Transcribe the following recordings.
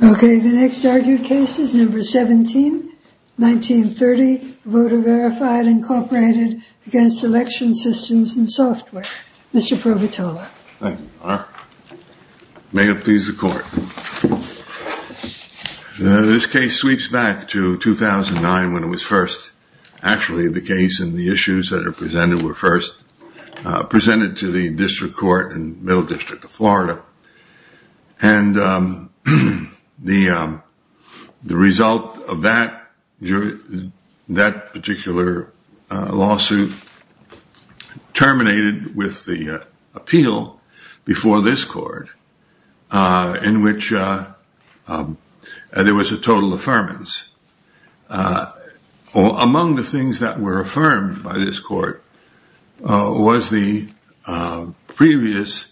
Okay, the next argued case is number 17, 1930, voter-verified. Incorporated Against Election Systems and Software, Mr. Provatola. May it please the court. This case sweeps back to 2009 when it was first, actually, the case and the issues that are presented were first presented to the District Court and Middle District of Florida. And the result of that, that particular lawsuit terminated with the appeal before this court in which there was a total affirmance among the things that were affirmed by this court. Was the previous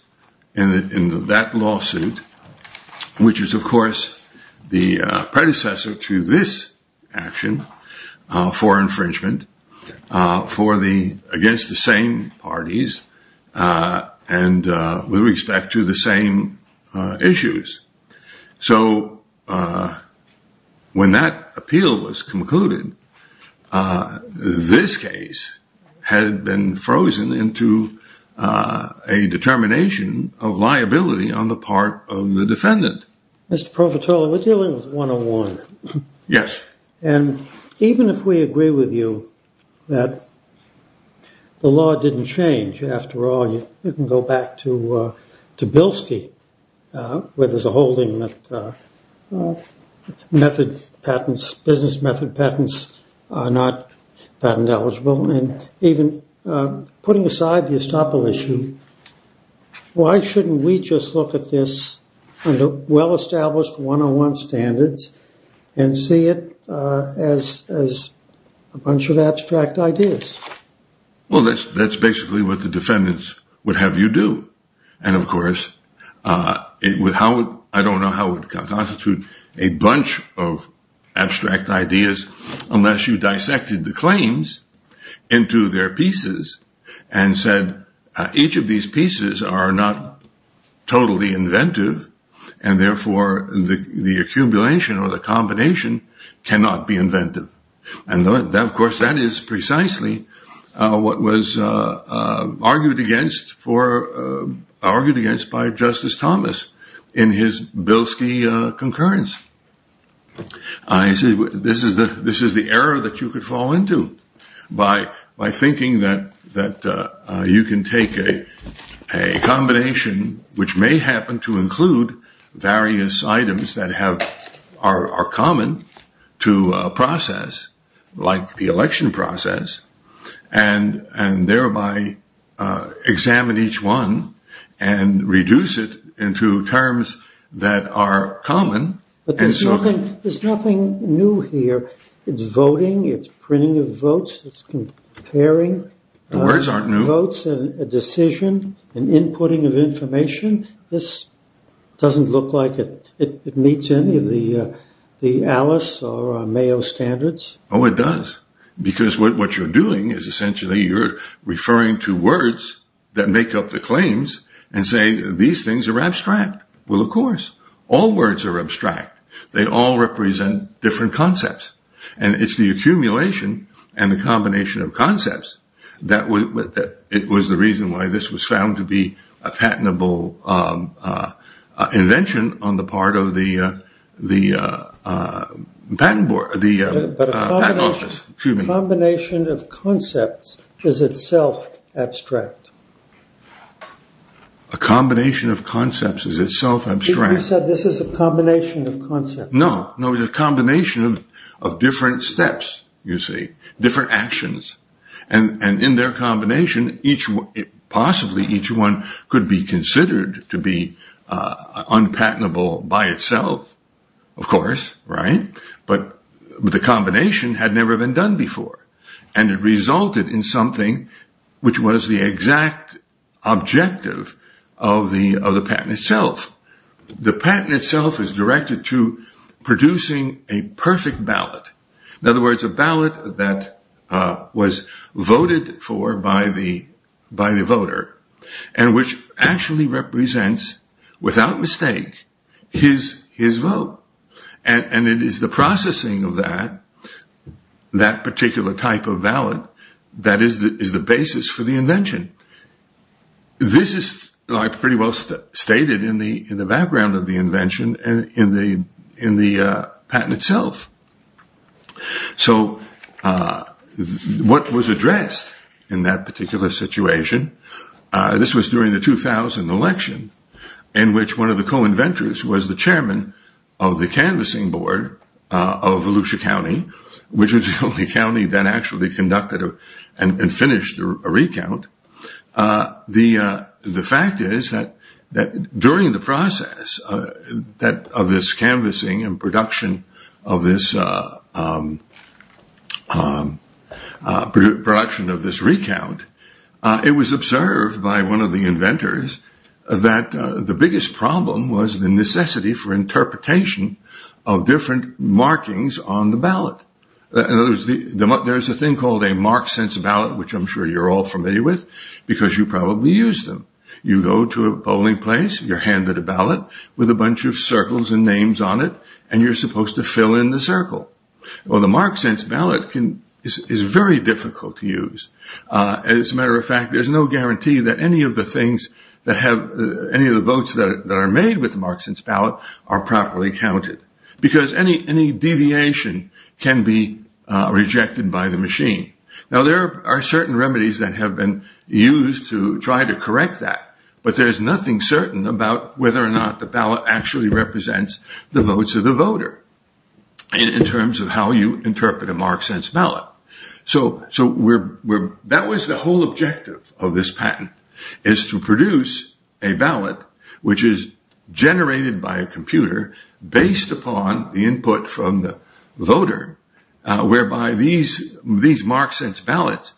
in that lawsuit, which is, of course, the predecessor to this action for infringement for the against the same parties and with respect to the same issues. So when that appeal was concluded, this case had been frozen into a determination of liability on the part of the defendant. Mr. Provatola, we're dealing with 101. Yes. And even if we agree with you that the law didn't change, after all, you can go back to Bilski, where there's a holding that business method patents are not patent eligible. And even putting aside the estoppel issue, why shouldn't we just look at this under well-established 101 standards and see it as a bunch of abstract ideas? Well, that's that's basically what the defendants would have you do. And of course, it would how I don't know how it would constitute a bunch of abstract ideas unless you dissected the claims into their pieces and said, each of these pieces are not totally inventive. And therefore, the accumulation or the combination cannot be inventive. And of course, that is precisely what was argued against for argued against by Justice Thomas in his Bilski concurrence. I see. This is the this is the error that you could fall into by by thinking that that you can take a combination which may happen to include various items that have are common to a process like the election process and and thereby examine each one and reduce it into terms that are common. But there's nothing there's nothing new here. It's voting. It's printing of votes. It's comparing the words aren't new votes and a decision and inputting of information. This doesn't look like it meets any of the the Alice or Mayo standards. Oh, it does. Because what you're doing is essentially you're referring to words that make up the claims and say these things are abstract. Well, of course, all words are abstract. They all represent different concepts. And it's the accumulation and the combination of concepts that it was the reason why this was found to be a patentable invention on the part of the the patent board. The combination of concepts is itself abstract. A combination of concepts is itself abstract. This is a combination of concepts. No, no. The combination of different steps, you see, different actions. And in their combination, each possibly each one could be considered to be unpatentable by itself, of course. Right. But the combination had never been done before. And it resulted in something which was the exact objective of the of the patent itself. The patent itself is directed to producing a perfect ballot. In other words, a ballot that was voted for by the by the voter and which actually represents, without mistake, his his vote. And it is the processing of that that particular type of ballot that is the basis for the invention. This is pretty well stated in the in the background of the invention and in the in the patent itself. So what was addressed in that particular situation? This was during the 2000 election in which one of the co-inventors was the chairman of the canvassing board of Volusia County, which was the only county that actually conducted and finished a recount. The the fact is that that during the process that of this canvassing and production of this production of this recount, it was observed by one of the inventors that the biggest problem was the necessity for interpretation of different markings on the ballot. In other words, there is a thing called a mark sense ballot, which I'm sure you're all familiar with, because you probably use them. You go to a polling place, you're handed a ballot with a bunch of circles and names on it, and you're supposed to fill in the circle. Well, the mark sense ballot is very difficult to use. As a matter of fact, there's no guarantee that any of the things that have any of the votes that are made with the mark sense ballot are properly counted because any any deviation can be rejected by the machine. Now, there are certain remedies that have been used to try to correct that, but there's nothing certain about whether or not the ballot actually represents the votes of the voter in terms of how you interpret a mark sense ballot. So so we're we're that was the whole objective of this patent is to produce a ballot, which is generated by a computer based upon the input from the voter, whereby these these mark sense ballots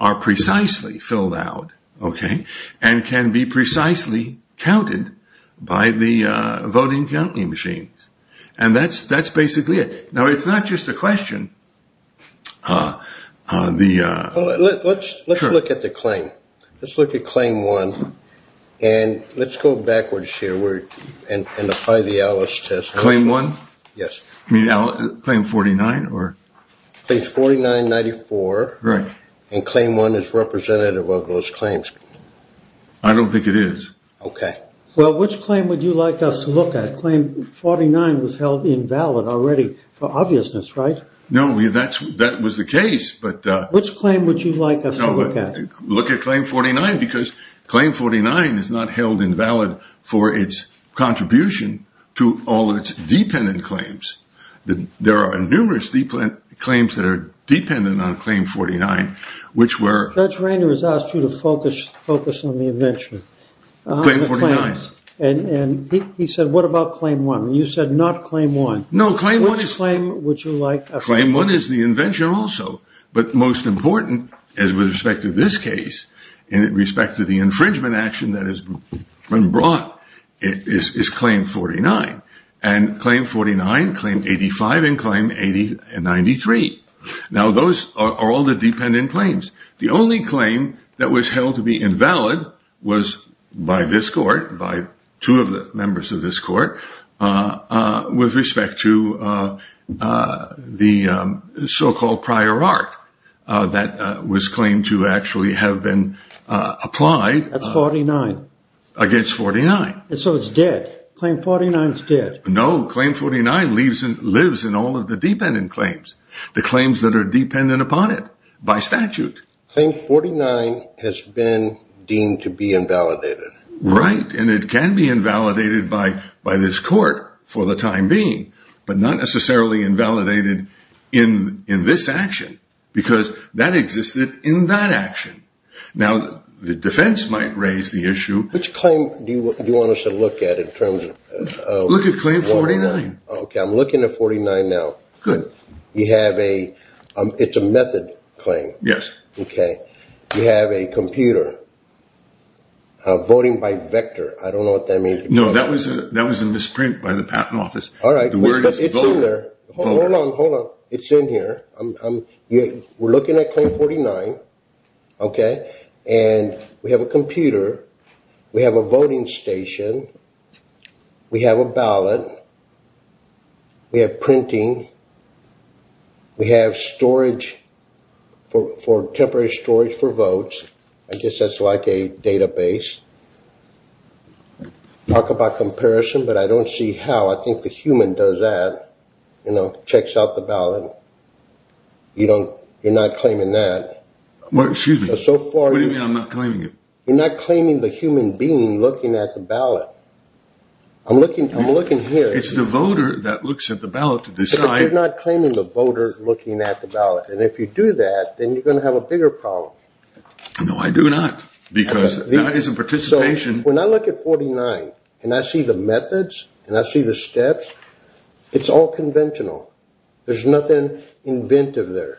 are precisely filled out. OK, and can be precisely counted by the voting counting machine. And that's that's basically it. Now, it's not just a question. The let's let's look at the claim. Let's look at claim one and let's go backwards here and apply the Alice test claim one. Yes, I mean, I'll claim forty nine or forty nine ninety four. Right. And claim one is representative of those claims. I don't think it is. OK, well, which claim would you like us to look at? Claim forty nine was held invalid already for obviousness, right? No, that's that was the case. But which claim would you like us to look at? Look at claim forty nine because claim forty nine is not held invalid for its contribution to all of its dependent claims. There are numerous deep claims that are dependent on claim forty nine, which were. That's right. It was asked you to focus focus on the invention. And he said, what about claim one? You said not claim one. No claim. What is claim? Would you like a claim? Now, those are all the dependent claims. The only claim that was held to be invalid was by this court, by two of the members of this court, with respect to the infringement action that has been brought. So-called prior art that was claimed to actually have been applied. That's forty nine against forty nine. So it's dead. Claim forty nine is dead. No claim. Forty nine leaves and lives in all of the dependent claims, the claims that are dependent upon it by statute. Claim forty nine has been deemed to be invalidated. Right. And it can be invalidated by by this court for the time being, but not necessarily invalidated in in this action because that existed in that action. Now, the defense might raise the issue. Which claim do you want us to look at in terms of claim forty nine? OK, I'm looking at forty nine now. Good. You have a it's a method claim. Yes. OK. You have a computer voting by vector. I don't know what that means. No, that was that was a misprint by the patent office. All right. It's in here. We're looking at claim forty nine. OK. And we have a computer. We have a voting station. We have a ballot. We have printing. We have storage for temporary storage for votes. I guess that's like a database. Talk about comparison, but I don't see how I think the human does that, you know, checks out the ballot. You don't you're not claiming that much. So far, I'm not claiming it. You're not claiming the human being looking at the ballot. I'm looking. I'm looking here. It's the voter that looks at the ballot to decide. You're not claiming the voter looking at the ballot. And if you do that, then you're going to have a bigger problem. No, I do not. Because that is a participation. When I look at forty nine and I see the methods and I see the steps, it's all conventional. There's nothing inventive there.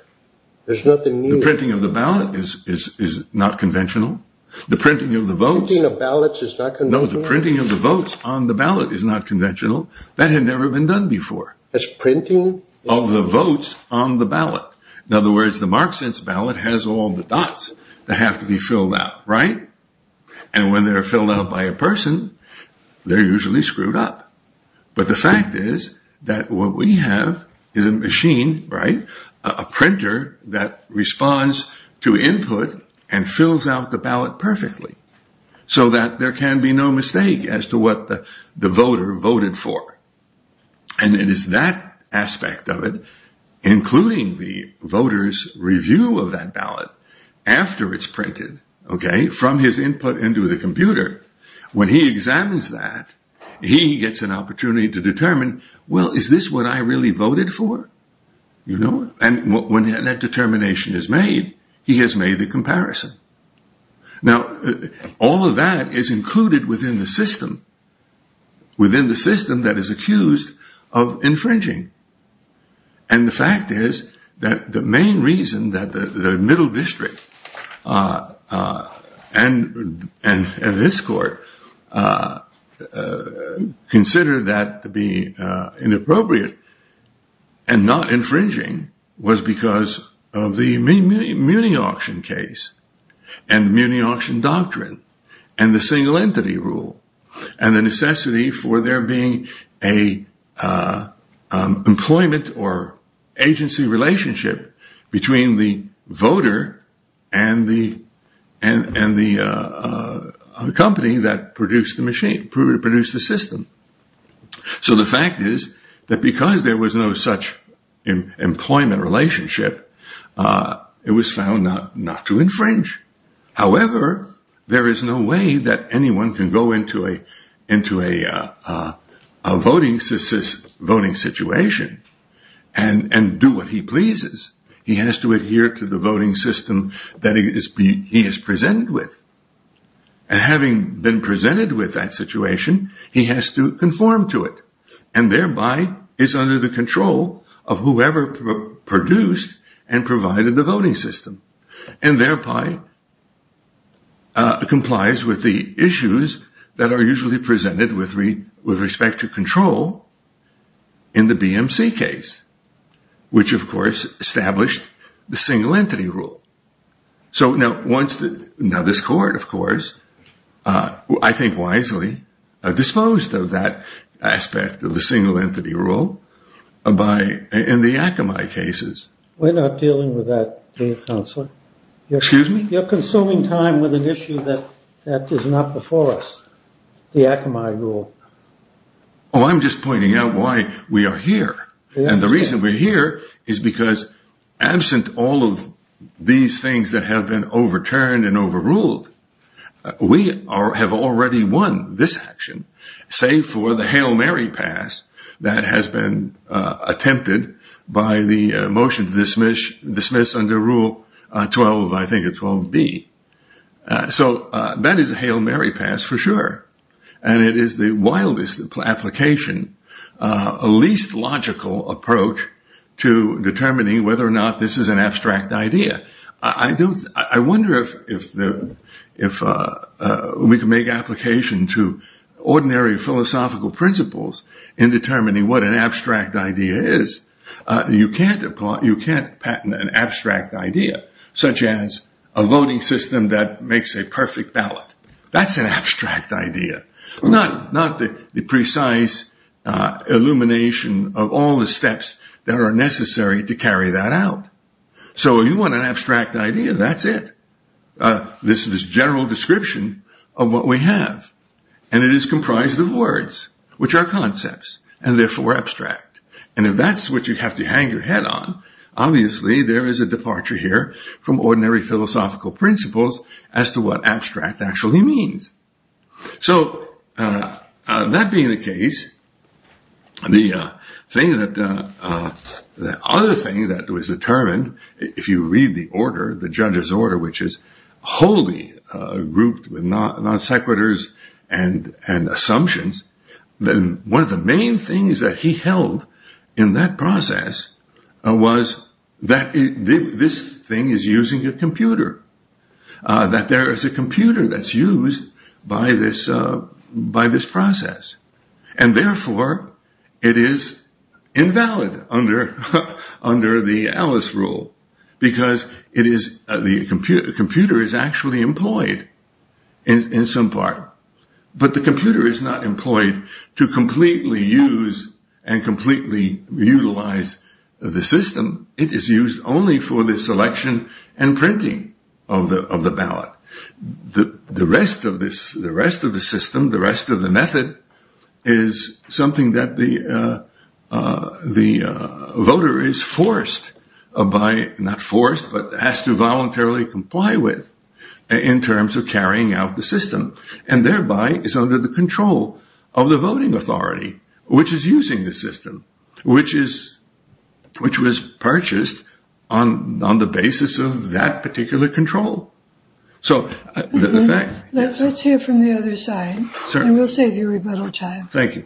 There's nothing. The printing of the ballot is is is not conventional. The printing of the votes in the ballots is not. No, the printing of the votes on the ballot is not conventional. That had never been done before. It's printing of the votes on the ballot. In other words, the mark sense ballot has all the dots that have to be filled out. Right. And when they're filled out by a person, they're usually screwed up. But the fact is that what we have is a machine, right? A printer that responds to input and fills out the ballot perfectly so that there can be no mistake as to what the voter voted for. And it is that aspect of it, including the voters review of that ballot after it's printed. OK, from his input into the computer, when he examines that, he gets an opportunity to determine, well, is this what I really voted for? You know, and when that determination is made, he has made the comparison. Now, all of that is included within the system. Within the system that is accused of infringing. And the fact is that the main reason that the middle district and this court consider that to be inappropriate and not infringing was because of the muni auction case and muni auction doctrine and the single entity rule. And the necessity for there being a employment or agency relationship between the voter and the and the company that produced the machine produced the system. So the fact is that because there was no such employment relationship, it was found not not to infringe. However, there is no way that anyone can go into a into a voting voting situation and do what he pleases. He has to adhere to the voting system that he is presented with. And having been presented with that situation, he has to conform to it and thereby is under the control of whoever produced and provided the voting system. And thereby complies with the issues that are usually presented with three with respect to control in the BMC case, which, of course, established the single entity rule. So now once that now this court, of course, I think wisely disposed of that aspect of the single entity rule by in the Akamai cases. We're not dealing with that. The counselor. Excuse me. You're consuming time with an issue that that is not before us. The Akamai rule. Oh, I'm just pointing out why we are here. And the reason we're here is because absent all of these things that have been overturned and overruled. We are have already won this action, say, for the Hail Mary pass that has been attempted by the motion to dismiss dismiss under Rule 12. I think it will be. So that is a Hail Mary pass for sure. And it is the wildest application, a least logical approach to determining whether or not this is an abstract idea. I wonder if we can make application to ordinary philosophical principles in determining what an abstract idea is. You can't patent an abstract idea such as a voting system that makes a perfect ballot. That's an abstract idea, not not the precise illumination of all the steps that are necessary to carry that out. So you want an abstract idea. That's it. This is general description of what we have. And it is comprised of words which are concepts and therefore abstract. And if that's what you have to hang your head on. Obviously, there is a departure here from ordinary philosophical principles as to what abstract actually means. So that being the case, the thing that the other thing that was determined, if you read the order, the judge's order, which is wholly grouped with non sequiturs and and assumptions, then one of the main things that he held in that process was that this thing is using a computer, that there is a computer that's used by this by this process. And therefore, it is invalid under under the Alice rule, because it is the computer. The computer is actually employed in some part, but the computer is not employed to completely use and completely utilize the system. It is used only for the selection and printing of the of the ballot. The rest of this, the rest of the system, the rest of the method is something that the the voter is forced by not forced, but has to voluntarily comply with in terms of carrying out the system. And thereby is under the control of the voting authority, which is using the system, which is which was purchased on the basis of that particular control. So let's hear from the other side. Thank you,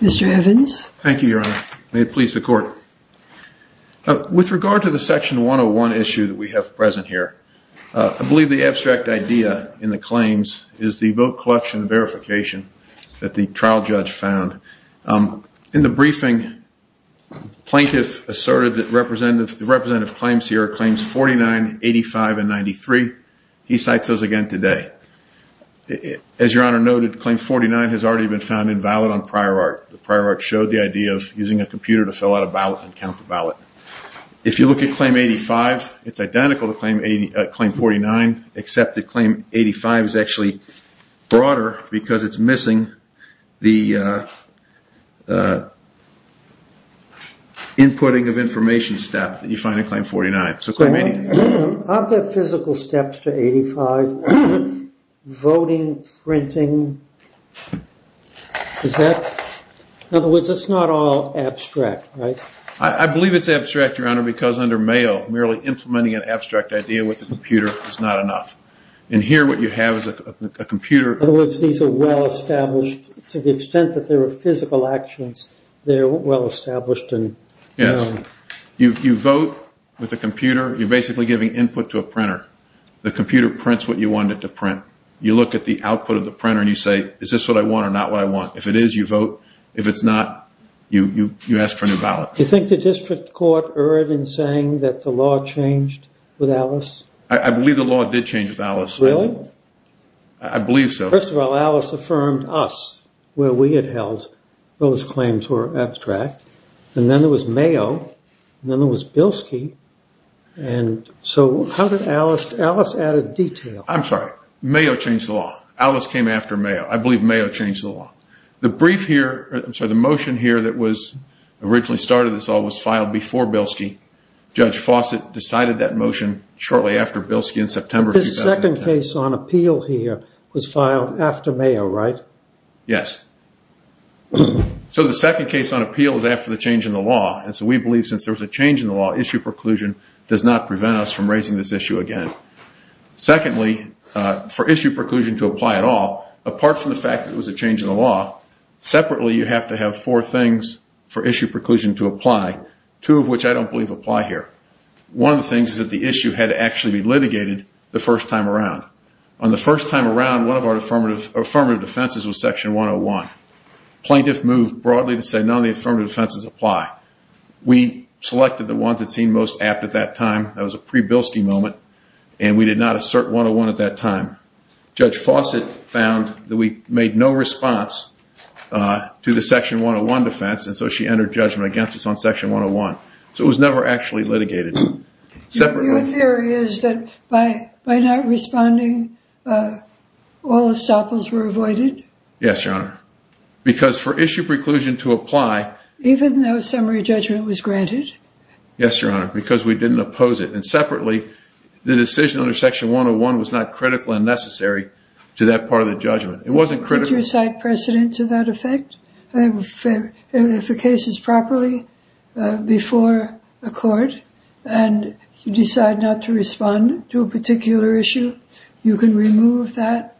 Mr. Evans. Thank you, Your Honor. May it please the court. With regard to the section one on one issue that we have present here, I believe the abstract idea in the claims is the vote collection verification that the trial judge found in the briefing. Plaintiff asserted that the representative claims here are claims 49, 85, and 93. He cites those again today. As Your Honor noted, claim 49 has already been found invalid on prior art. The prior art showed the idea of using a computer to fill out a ballot and count the ballot. If you look at claim 85, it's identical to claim 49, except that claim 85 is actually broader because it's missing the inputting of information step that you find in claim 49. Aren't there physical steps to 85? Voting, printing? In other words, it's not all abstract, right? I believe it's abstract, Your Honor, because under Mayo, merely implementing an abstract idea with a computer is not enough. In here, what you have is a computer. In other words, these are well-established. To the extent that there are physical actions, they're well-established. Yes. You vote with a computer. You're basically giving input to a printer. The computer prints what you want it to print. You look at the output of the printer and you say, is this what I want or not what I want? If it is, you vote. If it's not, you ask for a new ballot. Do you think the district court erred in saying that the law changed with Alice? I believe the law did change with Alice. Really? I believe so. First of all, Alice affirmed us where we had held those claims were abstract. Then there was Mayo. Then there was Bilski. How did Alice add a detail? I'm sorry. Mayo changed the law. Alice came after Mayo. I believe Mayo changed the law. The motion here that was originally started this all was filed before Bilski. Judge Fawcett decided that motion shortly after Bilski in September 2010. This second case on appeal here was filed after Mayo, right? Yes. So the second case on appeal was after the change in the law. So we believe since there was a change in the law, issue preclusion does not prevent us from raising this issue again. I don't believe for issue preclusion to apply at all, apart from the fact that it was a change in the law, separately you have to have four things for issue preclusion to apply, two of which I don't believe apply here. One of the things is that the issue had to actually be litigated the first time around. On the first time around, one of our affirmative defenses was section 101. Plaintiff moved broadly to say none of the affirmative defenses apply. We selected the ones that seemed most apt at that time. That was a pre-Bilski moment. And we did not assert 101 at that time. Judge Fawcett found that we made no response to the section 101 defense, and so she entered judgment against us on section 101. So it was never actually litigated. Your theory is that by not responding, all estoppels were avoided? Yes, Your Honor. Because for issue preclusion to apply... Even though summary judgment was granted? Yes, Your Honor, because we didn't oppose it. And separately, the decision under section 101 was not critical and necessary to that part of the judgment. It wasn't critical... Did you cite precedent to that effect? If a case is properly before a court and you decide not to respond to a particular issue, you can remove that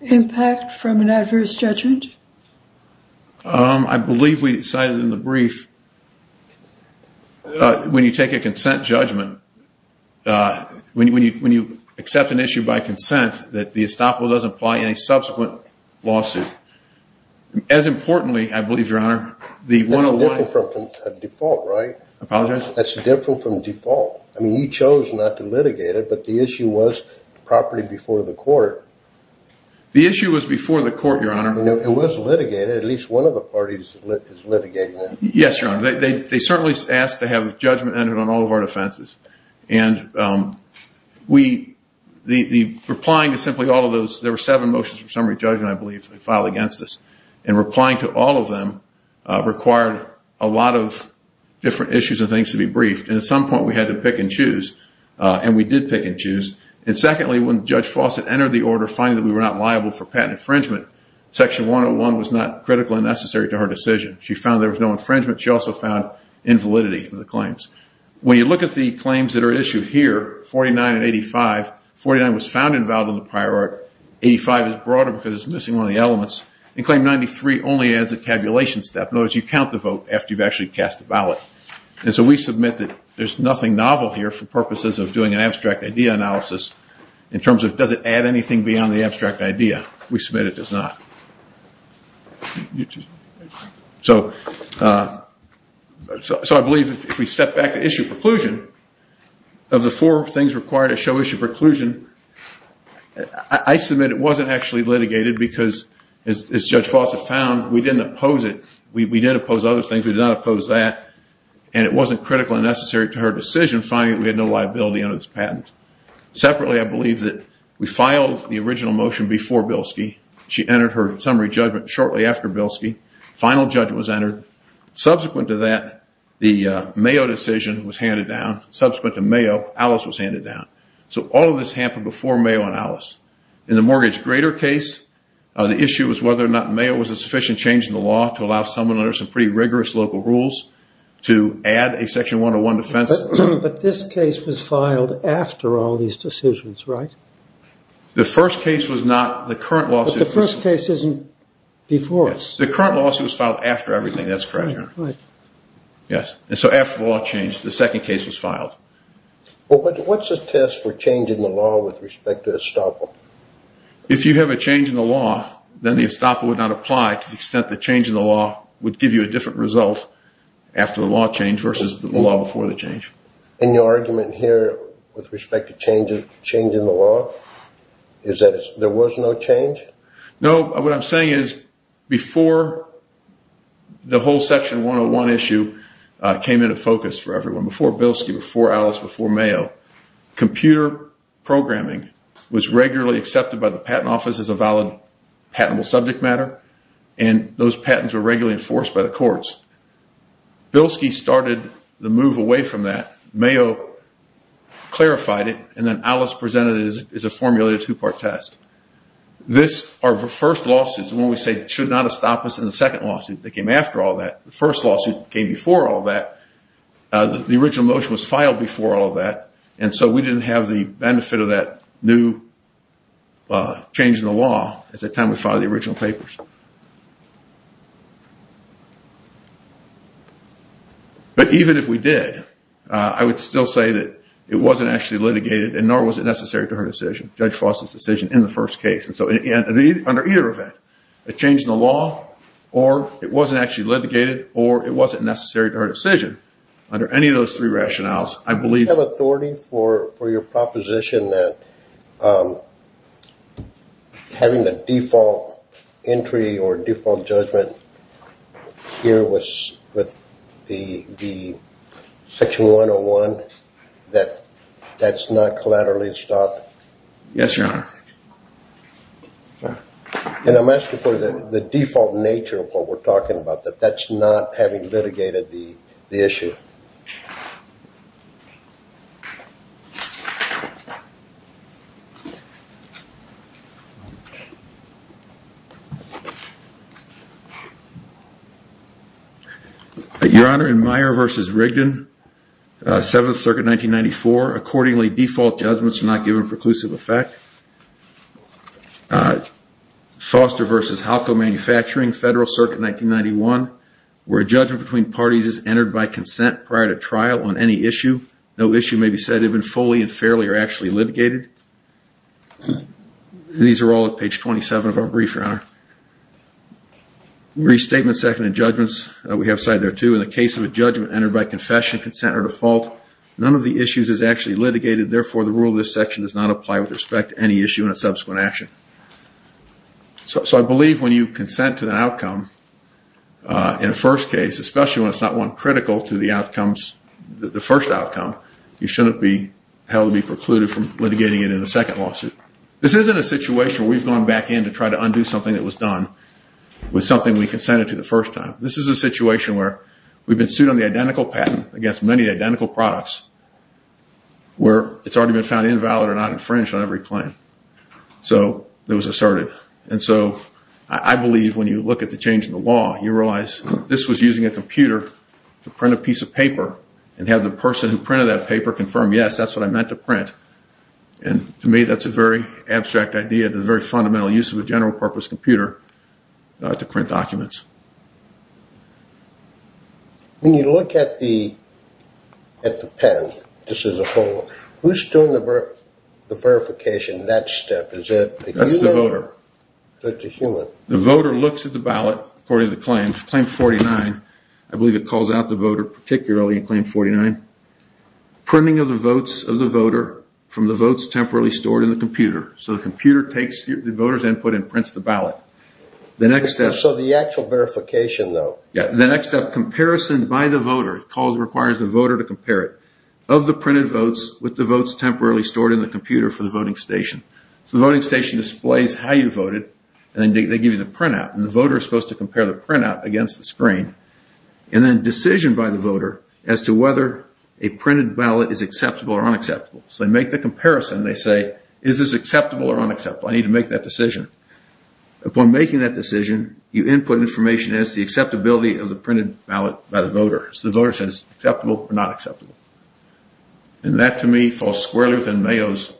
impact from an adverse judgment? I believe we cited in the brief, when you take a consent judgment, when you accept an issue by consent, that the estoppel doesn't apply in a subsequent lawsuit. As importantly, I believe, Your Honor, the 101... That's different from default, right? Apologize? That's different from default. I mean, you chose not to litigate it, but the issue was properly before the court. It was litigated. At least one of the parties is litigating it. Yes, Your Honor. They certainly asked to have judgment entered on all of our defenses. And the replying to simply all of those... There were seven motions for summary judgment, I believe, filed against us. And replying to all of them required a lot of different issues and things to be briefed. And at some point, we had to pick and choose. And we did pick and choose. And secondly, when Judge Fawcett entered the order, finding that we were not liable for patent infringement, Section 101 was not critical and necessary to her decision. She found there was no infringement. She also found invalidity of the claims. When you look at the claims that are issued here, 49 and 85, 49 was found involved in the prior art. 85 is broader because it's missing one of the elements. And Claim 93 only adds a tabulation step. In other words, you count the vote after you've actually cast the ballot. And so we submit that there's nothing novel here for purposes of doing an abstract idea analysis in terms of does it add anything beyond the abstract idea. We submit it does not. So I believe if we step back to issue preclusion, of the four things required to show issue preclusion, I submit it wasn't actually litigated because, as Judge Fawcett found, we didn't oppose it. And it wasn't critical and necessary to her decision, finding that we had no liability under this patent. Separately, I believe that we filed the original motion before Bilski. She entered her summary judgment shortly after Bilski. Final judgment was entered. Subsequent to that, the Mayo decision was handed down. Subsequent to Mayo, Alice was handed down. So all of this happened before Mayo and Alice. In the mortgage grader case, the issue was whether or not Mayo was a sufficient change in the law to allow someone under some pretty rigorous local rules to add a section 101 defense. But this case was filed after all these decisions, right? The first case was not. The current lawsuit. The first case isn't before us. The current lawsuit was filed after everything. That's correct. Right. Yes. And so after the law changed, the second case was filed. What's the test for changing the law with respect to Estoppel? If you have a change in the law, then the Estoppel would not apply to the extent that changing the law would give you a different result after the law changed versus the law before the change. And your argument here with respect to changing the law is that there was no change? No. What I'm saying is before the whole section 101 issue came into focus for everyone, before Bilski, before Alice, before Mayo, computer programming was regularly accepted by the patent office as a valid patentable subject matter. And those patents were regularly enforced by the courts. Bilski started the move away from that. Mayo clarified it. And then Alice presented it as a formula, a two-part test. This, our first lawsuit is when we say it should not have stopped us in the second lawsuit that came after all that. The first lawsuit came before all that. The original motion was filed before all of that. And so we didn't have the benefit of that new change in the law at the time we filed the original papers. But even if we did, I would still say that it wasn't actually litigated and nor was it necessary to her decision, Judge Foster's decision in the first case. And so under either event, a change in the law or it wasn't actually litigated or it wasn't necessary to her decision, under any of those three rationales, I believe. Do you have authority for your proposition that having the default entry or default judgment here with the Section 101, that that's not collaterally stopped? Yes, Your Honor. And I'm asking for the default nature of what we're talking about, that that's not having litigated the issue. Your Honor, in Meyer v. Rigdon, Seventh Circuit 1994, accordingly default judgments are not given preclusive effect. Foster v. Halco Manufacturing, Federal Circuit 1991, where a judgment between parties is entered by consent prior to trial on any issue. No issue may be said to have been fully and fairly or actually litigated. These are all at page 27 of our brief, Your Honor. Restatement, second, and judgments, we have a side there too. In the case of a judgment entered by confession, consent, or default, none of the issues is actually litigated. Therefore, the rule of this section does not apply with respect to any issue in a subsequent action. So I believe when you consent to the outcome, in a first case, especially when it's not one critical to the outcomes, the first outcome, you shouldn't be held to be precluded from litigating it in a second lawsuit. This isn't a situation where we've gone back in to try to undo something that was done with something we consented to the first time. This is a situation where we've been sued on the identical patent against many identical products where it's already been found invalid or not infringed on every claim. So it was asserted. And so I believe when you look at the change in the law, you realize this was using a computer to print a piece of paper and have the person who printed that paper confirm, yes, that's what I meant to print. And to me, that's a very abstract idea, the very fundamental use of a general purpose computer to print documents. When you look at the patent, who's doing the verification in that step? That's the voter. The voter looks at the ballot according to the claim, claim 49. I believe it calls out the voter particularly in claim 49. Printing of the votes of the voter from the votes temporarily stored in the computer. So the computer takes the voter's input and prints the ballot. So the actual verification, though. Yeah. The next step, comparison by the voter. It requires the voter to compare it. Of the printed votes with the votes temporarily stored in the computer for the voting station. So the voting station displays how you voted, and then they give you the printout. And the voter is supposed to compare the printout against the screen. And then decision by the voter as to whether a printed ballot is acceptable or unacceptable. So they make the comparison. They say, is this acceptable or unacceptable? I need to make that decision. Upon making that decision, you input information as to the acceptability of the printed ballot by the voter. So the voter says, acceptable or not acceptable? And that, to me, falls squarely within Mayo's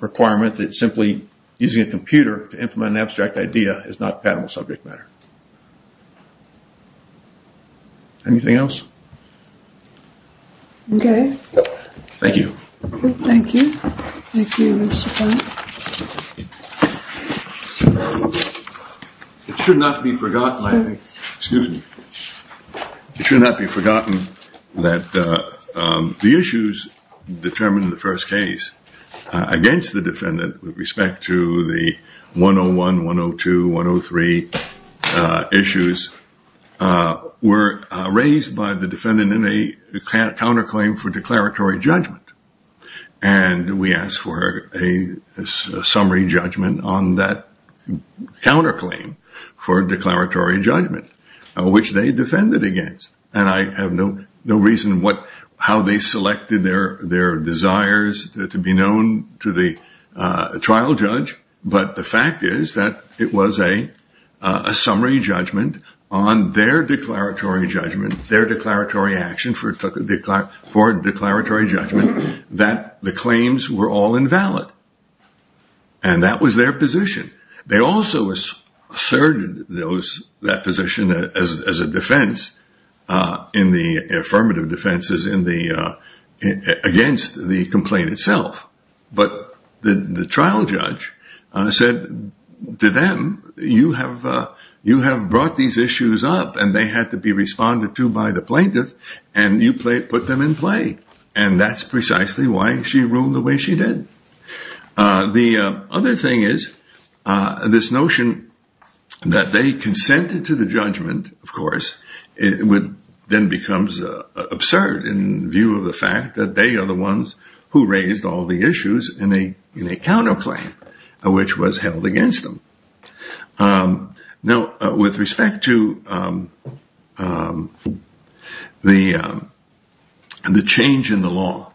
requirement that simply using a computer to implement an abstract idea is not a patentable subject matter. Anything else? Okay. Thank you. Thank you. Thank you, Mr. Frank. It should not be forgotten that the issues determined in the first case against the defendant with respect to the 101, 102, 103 issues were raised by the defendant in a counterclaim for declaratory judgment. And we asked for a summary judgment on that counterclaim for declaratory judgment, which they defended against. And I have no reason how they selected their desires to be known to the trial judge. But the fact is that it was a summary judgment on their declaratory judgment, their declaratory action for declaratory judgment, that the claims were all invalid. And that was their position. They also asserted that position as a defense in the affirmative defenses against the complaint itself. But the trial judge said to them, you have brought these issues up and they had to be responded to by the plaintiff and you put them in play. And that's precisely why she ruled the way she did. The other thing is this notion that they consented to the judgment. Of course, it would then becomes absurd in view of the fact that they are the ones who raised all the issues in a counterclaim, which was held against them. Now, with respect to the the change in the law,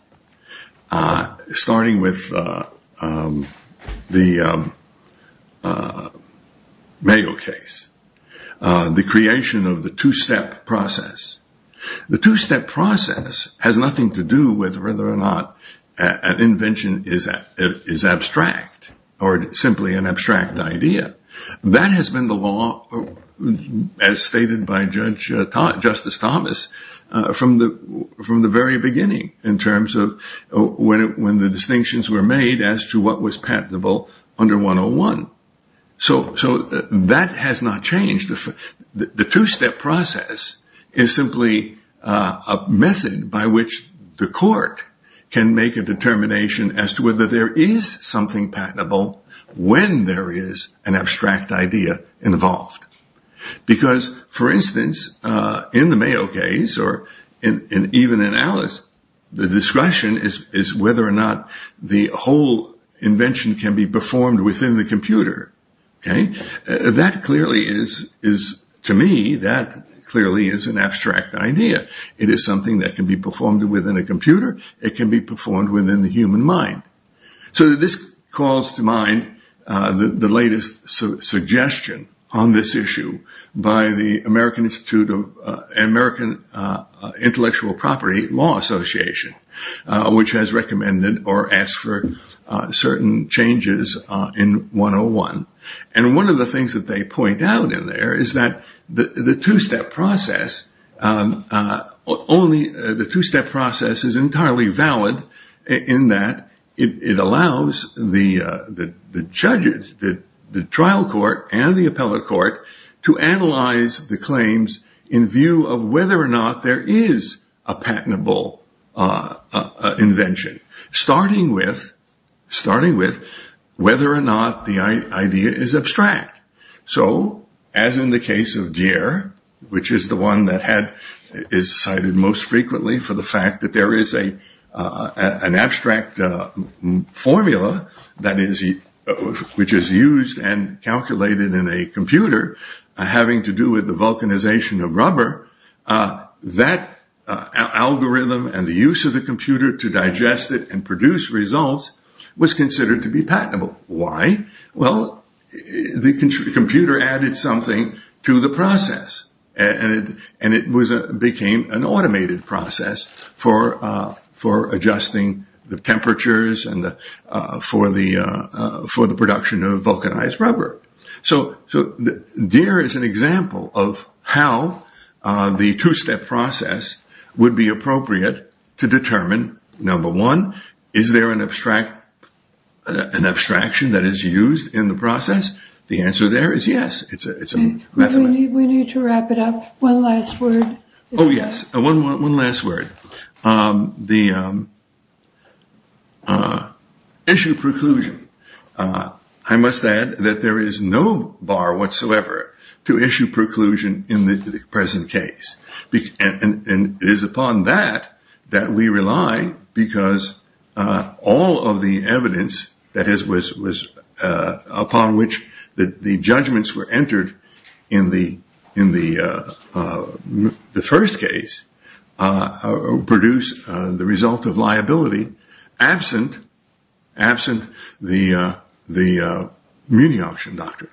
starting with the Mayo case, the creation of the two step process, the two step process has nothing to do with whether or not an invention is is abstract or simply an abstract idea. That has been the law as stated by Judge Justice Thomas from the from the very beginning in terms of when when the distinctions were made as to what was patentable under 101. So that has not changed. The two step process is simply a method by which the court can make a determination as to whether there is something patentable when there is an abstract idea involved. Because, for instance, in the Mayo case or in even in Alice, the discretion is is whether or not the whole invention can be performed within the computer. OK, that clearly is is to me that clearly is an abstract idea. It is something that can be performed within a computer. It can be performed within the human mind. So this calls to mind the latest suggestion on this issue by the American Institute of American Intellectual Property Law Association, which has recommended or asked for certain changes in 101. And one of the things that they point out in there is that the two step process only the two step process is entirely valid in that it allows the judges that the trial court and the appellate court to analyze the claims in view of whether or not there is a patentable invention. Starting with starting with whether or not the idea is abstract. So as in the case of gear, which is the one that had is cited most frequently for the fact that there is a an abstract formula that is which is used and calculated in a computer having to do with the vulcanization of rubber. That algorithm and the use of the computer to digest it and produce results was considered to be patentable. Why? Well, the computer added something to the process and it was a became an automated process for for adjusting the temperatures and for the for the production of vulcanized rubber. So. So there is an example of how the two step process would be appropriate to determine. Number one, is there an abstract an abstraction that is used in the process? The answer there is yes. It's a we need to wrap it up. One last word. Oh, yes. One last word. The. Issue preclusion. I must add that there is no bar whatsoever to issue preclusion in the present case. In this case. Produce the result of liability absent, absent the the muni auction doctor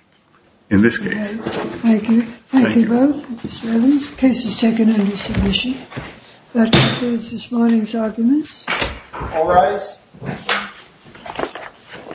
in this case. Thank you. Thank you both. This case is taken under submission. That is this morning's arguments. All rise.